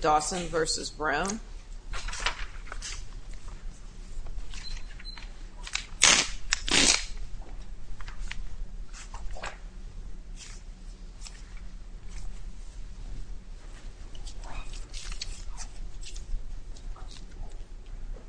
Dawson v. Brown Yeah, thank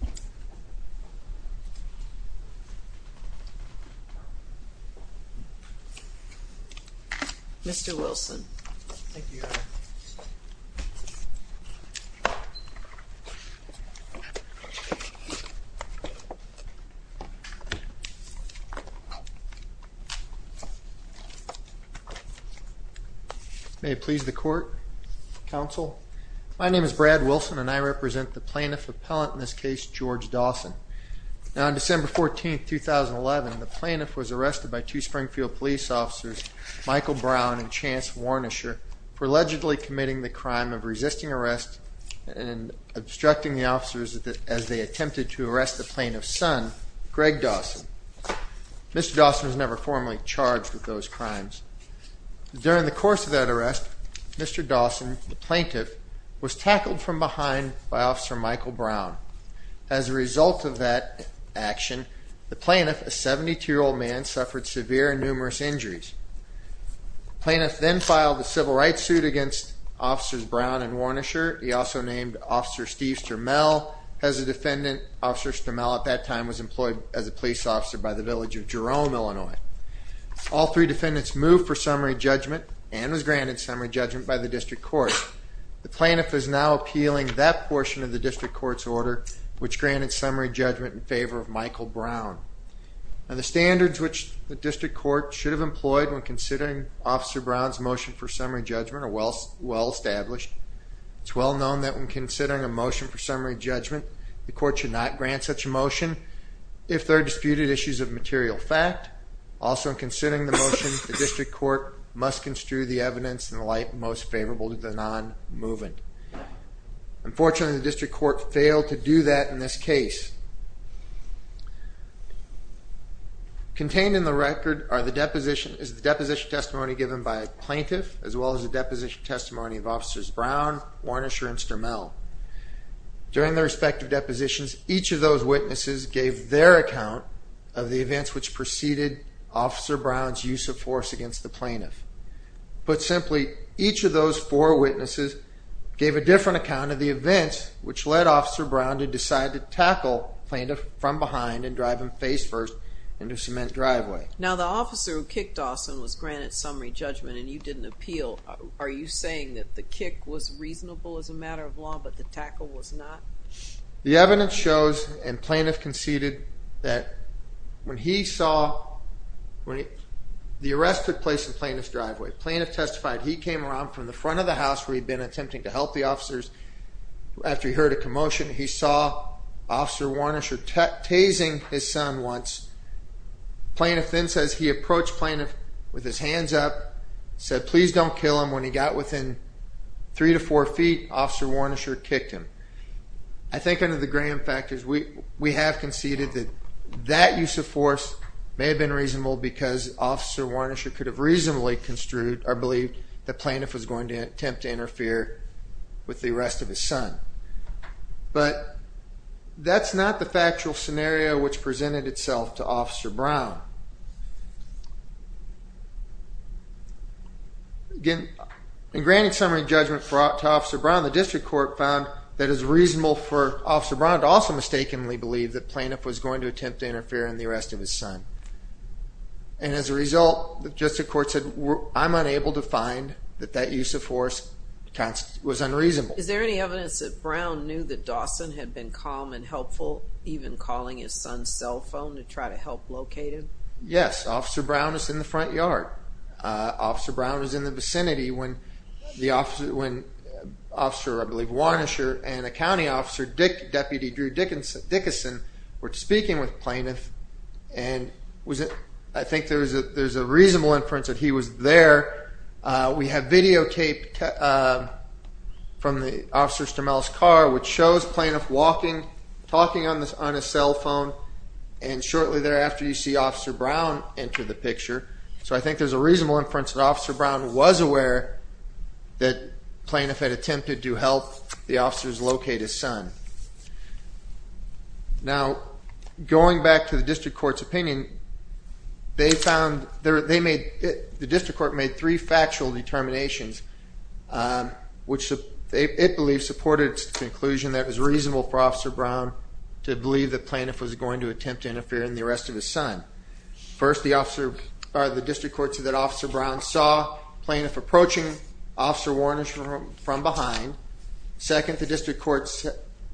you. Yeah, mister Wilson, mm. Okay. May it please the court counsel. My name is Brad Wilson, and I represent the plaintiff appellant in this case, George Dawson. Now, on December 14th, 2011, the plaintiff was arrested by two Springfield police officers, Michael Brown and Chance Warnisher for allegedly committing the crime of resisting arrest and obstructing the officers as they attempted to arrest the plaintiff's son, Greg Dawson. Mr Dawson was never formally charged with those crimes. During the course of that arrest, Mr Dawson, the plaintiff, was tackled from behind by Officer Michael Brown. As a result of that action, the plaintiff, a 72 year old man, suffered severe and numerous injuries. Plaintiff then filed a civil rights suit against Officers Brown and Warnisher. He also named Officer Steve Sturmell as a defendant. Officer Sturmell at that time was employed as a police officer by the village of Jerome, Illinois. All three defendants moved for summary judgment and was granted summary judgment by the district court. The plaintiff is now appealing that portion of the district court's order, which granted summary judgment in favor of Michael Brown. It's well known that when considering Officer Brown's motion for summary judgment, or well established, it's well known that when considering a motion for summary judgment, the court should not grant such a motion if there are disputed issues of material fact. Also, in considering the motion, the district court must construe the evidence in the light most favorable to the non-moving. Unfortunately, the district court failed to do that in this case. Contained in the record is the deposition testimony given by a plaintiff, as well as the deposition testimony of Officers Brown, Warnisher, and Sturmell. During their respective depositions, each of those witnesses gave their account of the events which preceded Officer Brown's use of force against the plaintiff. Put simply, each of those four witnesses gave a different account of the events which led Officer Brown to decide to tackle the plaintiff from behind and drive him face first into a cement driveway. Now, the officer who kicked Dawson was granted summary judgment, and you didn't appeal. Are you saying that the kick was reasonable as a matter of law, but the tackle was not? The evidence shows, and the plaintiff conceded, that when he saw, when the arrest took place in the plaintiff's driveway, the plaintiff testified that he came around from the front of the house where he'd been attempting to help the officers after he heard a commotion, he saw Officer Warnisher tasing his son once. Plaintiff then says he approached plaintiff with his hands up, said, please don't kill him. When he got within three to four feet, Officer Warnisher kicked him. I think under the Graham factors, we have conceded that that use of force may have been reasonable because Officer Warnisher could have reasonably construed, or believed, that plaintiff was going to attempt to interfere with the arrest of his son. But that's not the factual scenario which presented itself to Officer Brown. Again, in granting summary judgment to Officer Brown, the district court found that it was reasonable for Officer Brown to also mistakenly believe that plaintiff was going to attempt to interfere in the arrest of his son. And as a result, the district court said, I'm unable to find that that use of force was unreasonable. Is there any evidence that Brown knew that Dawson had been calm and helpful, even calling his son's cell phone to try to help locate him? Yes, Officer Brown is in the front yard. Officer Brown was in the vicinity when Officer, I believe, Warnisher and a county officer, Deputy Drew Dickinson, were speaking with plaintiff. And I think there's a reasonable inference that he was there. We have videotaped from the officer's car, which shows plaintiff walking, talking on a cell phone. And shortly thereafter, you see Officer Brown enter the picture. So I think there's a reasonable inference that Officer Brown was aware that plaintiff had attempted to help the officers locate his son. Now, going back to the district court's opinion, the district court made three factual determinations, which it believes supported its conclusion that it was reasonable for Officer Brown to believe that plaintiff was going to attempt to interfere in the arrest of his son. First, the district court said that Officer Brown saw plaintiff approaching Officer Warnisher from behind. Second, the district court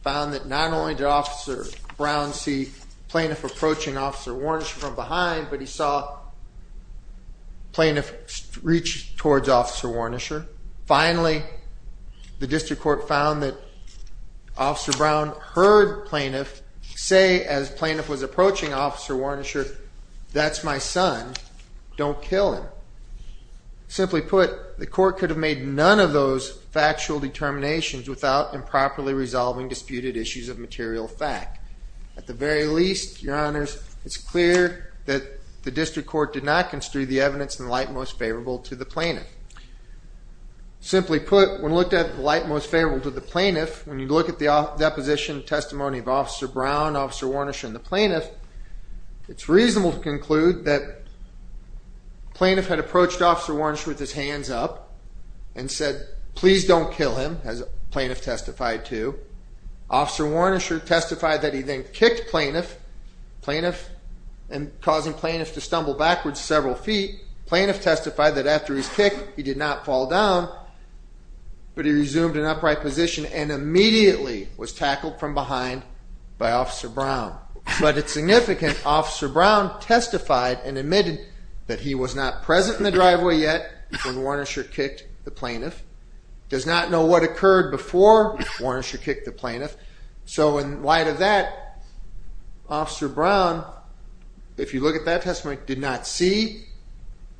found that not only did Officer Brown see plaintiff approaching Officer Warnisher from behind, but he saw plaintiff reach towards Officer Warnisher. Finally, the district court found that Officer Brown heard plaintiff say as plaintiff was approaching Officer Warnisher, that's my son, don't kill him. Simply put, the court could have made none of those factual determinations without improperly resolving disputed issues of material fact. At the very least, your honors, it's clear that the district court did not construe the evidence in the light most favorable to the plaintiff. Simply put, when looked at the light most favorable to the plaintiff, when you look at the deposition testimony of Officer Brown, Officer Warnisher, and the plaintiff, it's reasonable to conclude that plaintiff had approached Officer Warnisher with his hands up, and said, please don't kill him, as plaintiff testified to. Officer Warnisher testified that he then kicked plaintiff, causing plaintiff to stumble backwards several feet. Plaintiff testified that after his kick, he did not fall down, but he resumed an upright position and immediately was tackled from behind by Officer Brown. But it's significant, Officer Brown testified and admitted that he was not present in the driveway yet when Warnisher kicked the plaintiff. Does not know what occurred before Warnisher kicked the plaintiff. So in light of that, Officer Brown, if you look at that testimony, did not see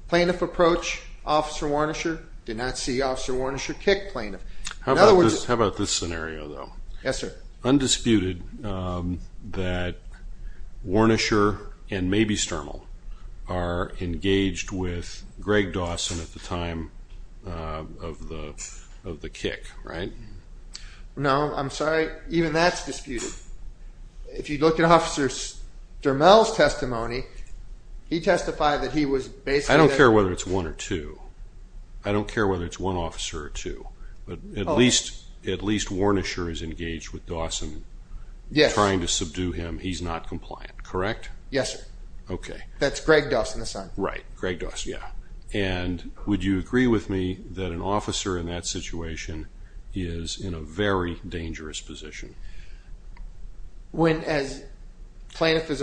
plaintiff approach Officer Warnisher, did not see Officer Warnisher kick plaintiff. In other words- How about this scenario, though? Yes, sir. Undisputed that Warnisher and maybe Stermel are engaged with Greg Dawson at the time of the kick, right? No, I'm sorry, even that's disputed. If you look at Officer Stermel's testimony, he testified that he was basically- I don't care whether it's one or two. I don't care whether it's one officer or two, but at least Warnisher is engaged with Dawson. Yes. Trying to subdue him, he's not compliant, correct? Yes, sir. Okay. That's Greg Dawson, the son. Right, Greg Dawson, yeah. And would you agree with me that an officer in that situation is in a very dangerous position? When as plaintiff is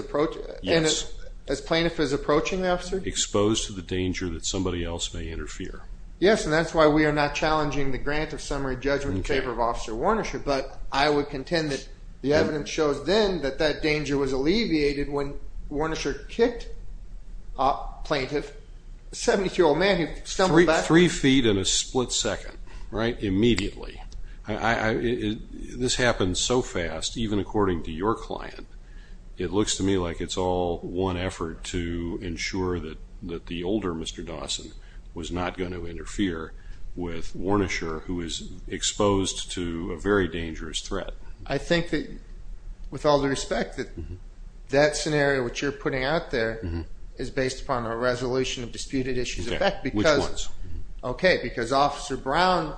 approaching the officer? Exposed to the danger that somebody else may interfere. Yes, and that's why we are not challenging the grant of summary judgment in favor of Officer Warnisher. But I would contend that the evidence shows then that that danger was alleviated when Warnisher kicked plaintiff. A 72-year-old man who stumbled back- Three feet in a split second, right? Immediately. This happens so fast, even according to your client, it looks to me like it's all one effort to ensure that the older Mr. Dawson was not going to interfere with Warnisher, who is exposed to a very dangerous threat. I think that, with all due respect, that that scenario which you're putting out there is based upon a resolution of disputed issues of fact because- Which ones? Okay, because Officer Brown's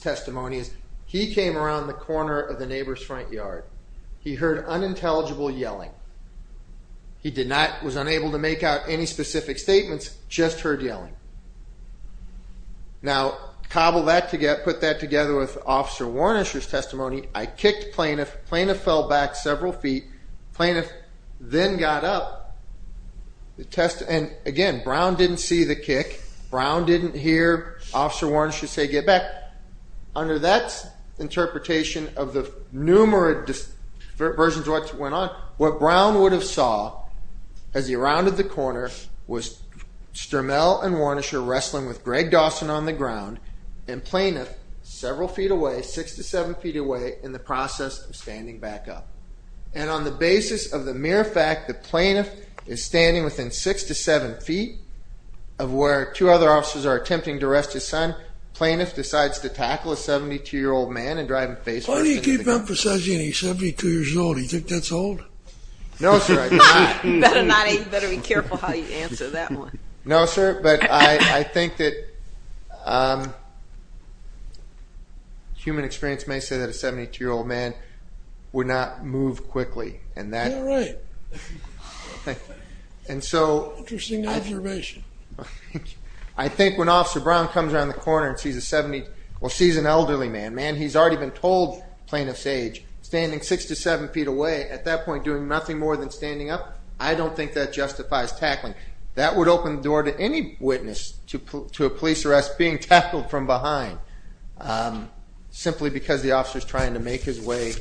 testimony is, he came around the corner of the neighbor's front yard, he heard unintelligible yelling, he did not, was unable to make out any specific statements, just heard yelling. Now, cobble that together, put that together with Officer Warnisher's testimony, I kicked plaintiff, plaintiff fell back several feet, plaintiff then got up, and again, Brown didn't see the kick. Brown didn't hear Officer Warnisher say, get back. Under that interpretation of the numerous versions of what went on, what Brown would have saw as he rounded the corner was Sturmell and Warnisher wrestling with Greg Dawson on the ground and plaintiff several feet away, six to seven feet away, in the process of standing back up. And on the basis of the mere fact that plaintiff is standing within six to seven feet of where two other officers are attempting to arrest his son, plaintiff decides to tackle a 72-year-old man and drive him face first. Why do you keep emphasizing he's 72 years old? You think that's old? No, sir, I don't. You better not, you better be careful how you answer that one. No, sir, but I think that human experience may say that a 72-year-old man would not move quickly, and that... You're right. And so... Interesting observation. I think when Officer Brown comes around the corner and sees a 70, well, sees an elderly man, man, he's already been told plaintiff's age, standing six to seven feet away, at that point, doing nothing more than standing up, I don't think that justifies tackling. That would open the door to any witness to a police arrest being tackled from behind, simply because the officer's trying to make his way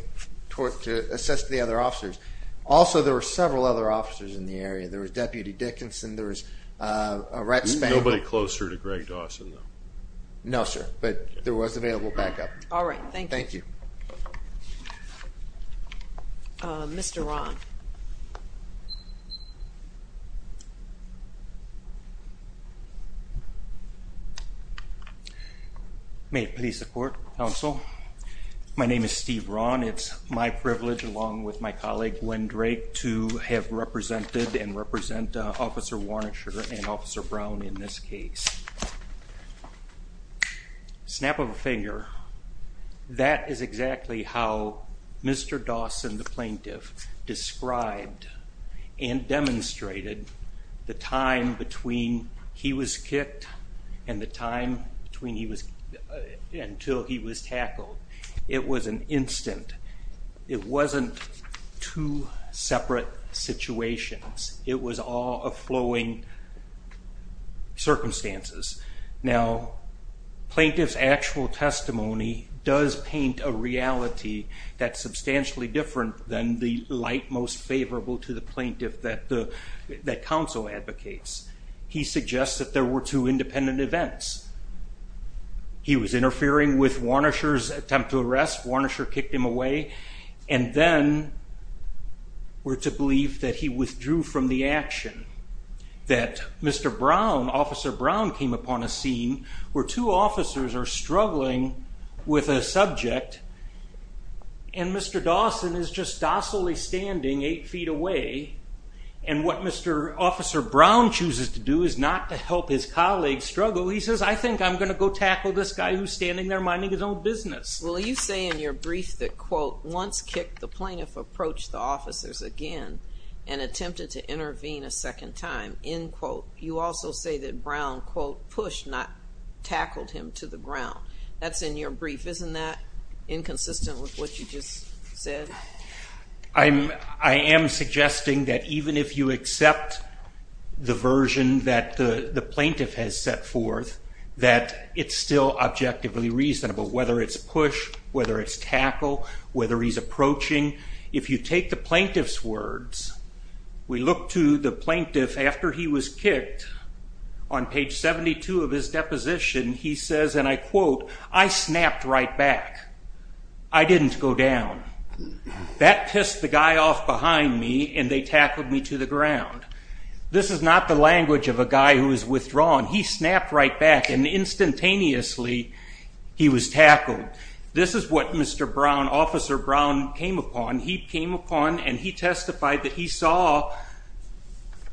to assess the other officers. Also, there were several other officers in the area. There was Deputy Dickinson, there was a Rhett Spaniel. Nobody closer to Greg Dawson, though. No, sir, but there was available backup. All right, thank you. Thank you. Mr. Ron. May it please the court, counsel. My name is Steve Ron. It's my privilege, along with my colleague Gwen Drake, to have represented and represent Officer Warnacher and Officer Brown in this case. A snap of a finger. That is exactly how Mr. Dawson, the plaintiff, described and demonstrated the time between he was kicked and the time until he was tackled. It was an instant. It wasn't two separate situations. It was all a flowing circumstances. Now, plaintiff's actual testimony does paint a reality that's substantially different than the light most favorable to the plaintiff that counsel advocates. He suggests that there were two independent events. He was interfering with Warnacher's attempt to arrest. Warnacher kicked him away. Then we're to believe that he withdrew from the action. That Mr. Brown, Officer Brown, came upon a scene where two officers are struggling with a subject. Mr. Dawson is just docilely standing eight feet away. What Mr. Officer Brown chooses to do is not to help his colleague struggle. He says, I think I'm going to go tackle this guy who's standing there minding his own business. Well, you say in your brief that, quote, once kicked, the plaintiff approached the officers again and attempted to intervene a second time. End quote. You also say that Brown, quote, pushed, not tackled him to the ground. That's in your brief. Isn't that inconsistent with what you just said? I am suggesting that even if you accept the version that the plaintiff has set forth, that it's still objectively reasonable. Whether it's push, whether it's tackle, whether he's approaching. If you take the plaintiff's words, we look to the plaintiff after he was kicked. On page 72 of his deposition, he says, and I quote, I snapped right back. I didn't go down. That pissed the guy off behind me, and they tackled me to the ground. This is not the language of a guy who was withdrawn. He snapped right back. Instantaneously, he was tackled. This is what Mr. Brown, Officer Brown, came upon. He came upon and he testified that he saw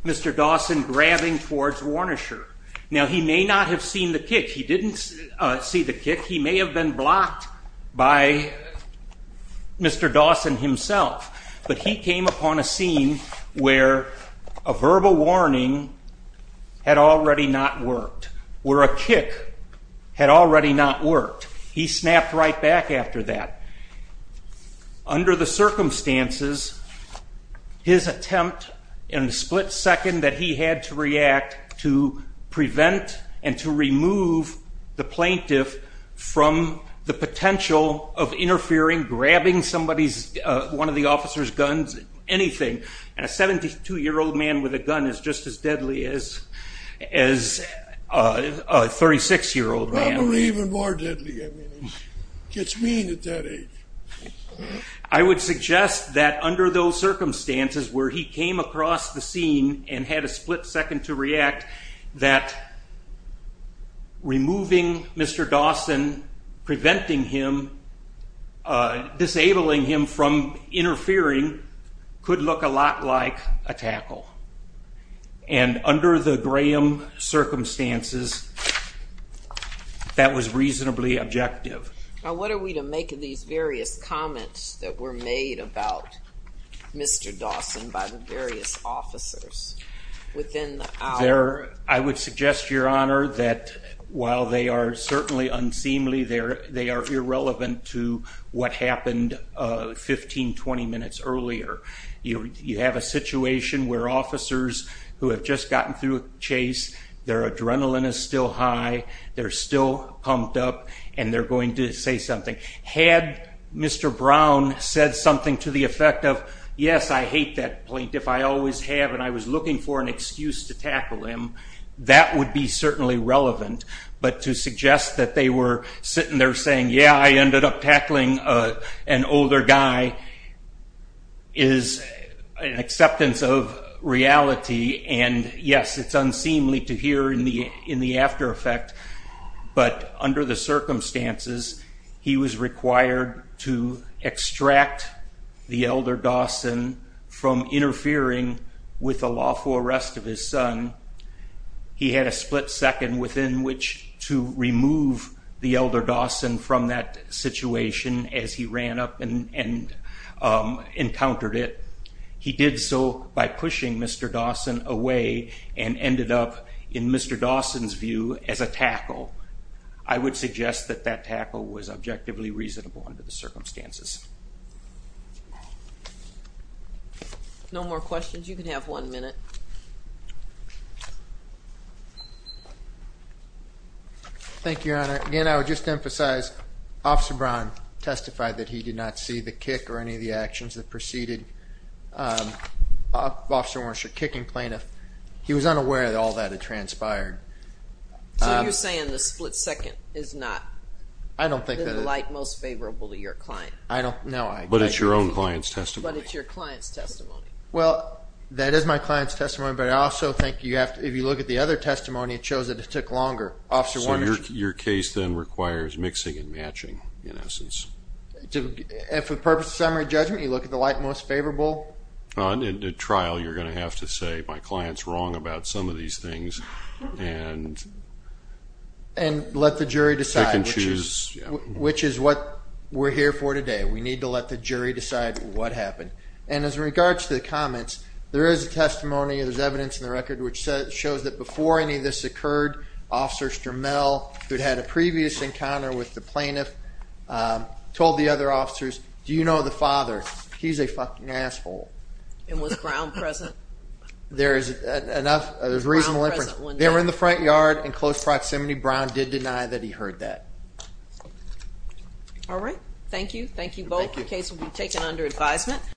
Mr. Dawson grabbing towards Warnershire. Now, he may not have seen the kick. He didn't see the kick. He may have been blocked by Mr. Dawson himself. But he came upon a scene where a verbal warning had already not worked. Where a kick had already not worked. He snapped right back after that. Under the circumstances, his attempt in the split second that he had to react to prevent and to remove the plaintiff from the potential of interfering, grabbing somebody's, one of the officer's guns, anything. A 72-year-old man with a gun is just as deadly as a 36-year-old man. Probably even more deadly. I mean, he gets mean at that age. I would suggest that under those circumstances where he came across the scene and had a split second to react, that removing Mr. Dawson, preventing him, disabling him from interfering could look a lot like a tackle. And under the Graham circumstances, that was reasonably objective. Now, what are we to make of these various comments that were made about Mr. Dawson by the various officers within the hour? I would suggest, Your Honor, that while they are certainly unseemly, they are irrelevant to what happened 15, 20 minutes earlier. You have a situation where officers who have just gotten through a chase, their adrenaline is still high, they're still pumped up, and they're going to say something. Had Mr. Brown said something to the effect of, yes, I hate that plaintiff, I always have, and I was looking for an excuse to tackle him, that would be certainly relevant. But to suggest that they were sitting there saying, yeah, I ended up tackling an older guy, is an acceptance of reality. And yes, it's unseemly to hear in the after effect, but under the circumstances, he was required to extract the elder Dawson from interfering with the lawful arrest of his son. He had a split second within which to remove the elder Dawson from that situation as he ran up and encountered it. He did so by pushing Mr. Dawson away and ended up, in Mr. Dawson's view, as a tackle. I would suggest that that tackle was objectively reasonable under the circumstances. No more questions? You can have one minute. Thank you, Your Honor. Again, I would just emphasize, Officer Brown testified that he did not see the kick or any of the actions that preceded Officer Wernicke's kicking plaintiff. He was unaware that all that had transpired. So you're saying the split second is not the delight most favorable to your client? But it's your own client's testimony. But it's your client's testimony. Well, that is my client's testimony, but I also think you have to, if you look at the other testimony, it shows that it took longer. Officer Wernicke. Your case then requires mixing and matching, in essence. And for the purpose of summary judgment, you look at the light most favorable? In a trial, you're going to have to say, my client's wrong about some of these things. And let the jury decide, which is what we're here for today. We need to let the jury decide what happened. And as regards to the comments, there is a testimony, there's evidence in the record, which shows that before any of this occurred, Officer Sturmell, who'd had a previous encounter with the plaintiff, told the other officers, do you know the father? He's a fucking asshole. And was Brown present? There is enough, there's reasonable inference. They were in the front yard in close proximity. Brown did deny that he heard that. All right. Thank you. Thank you both. The case will be taken under advisement.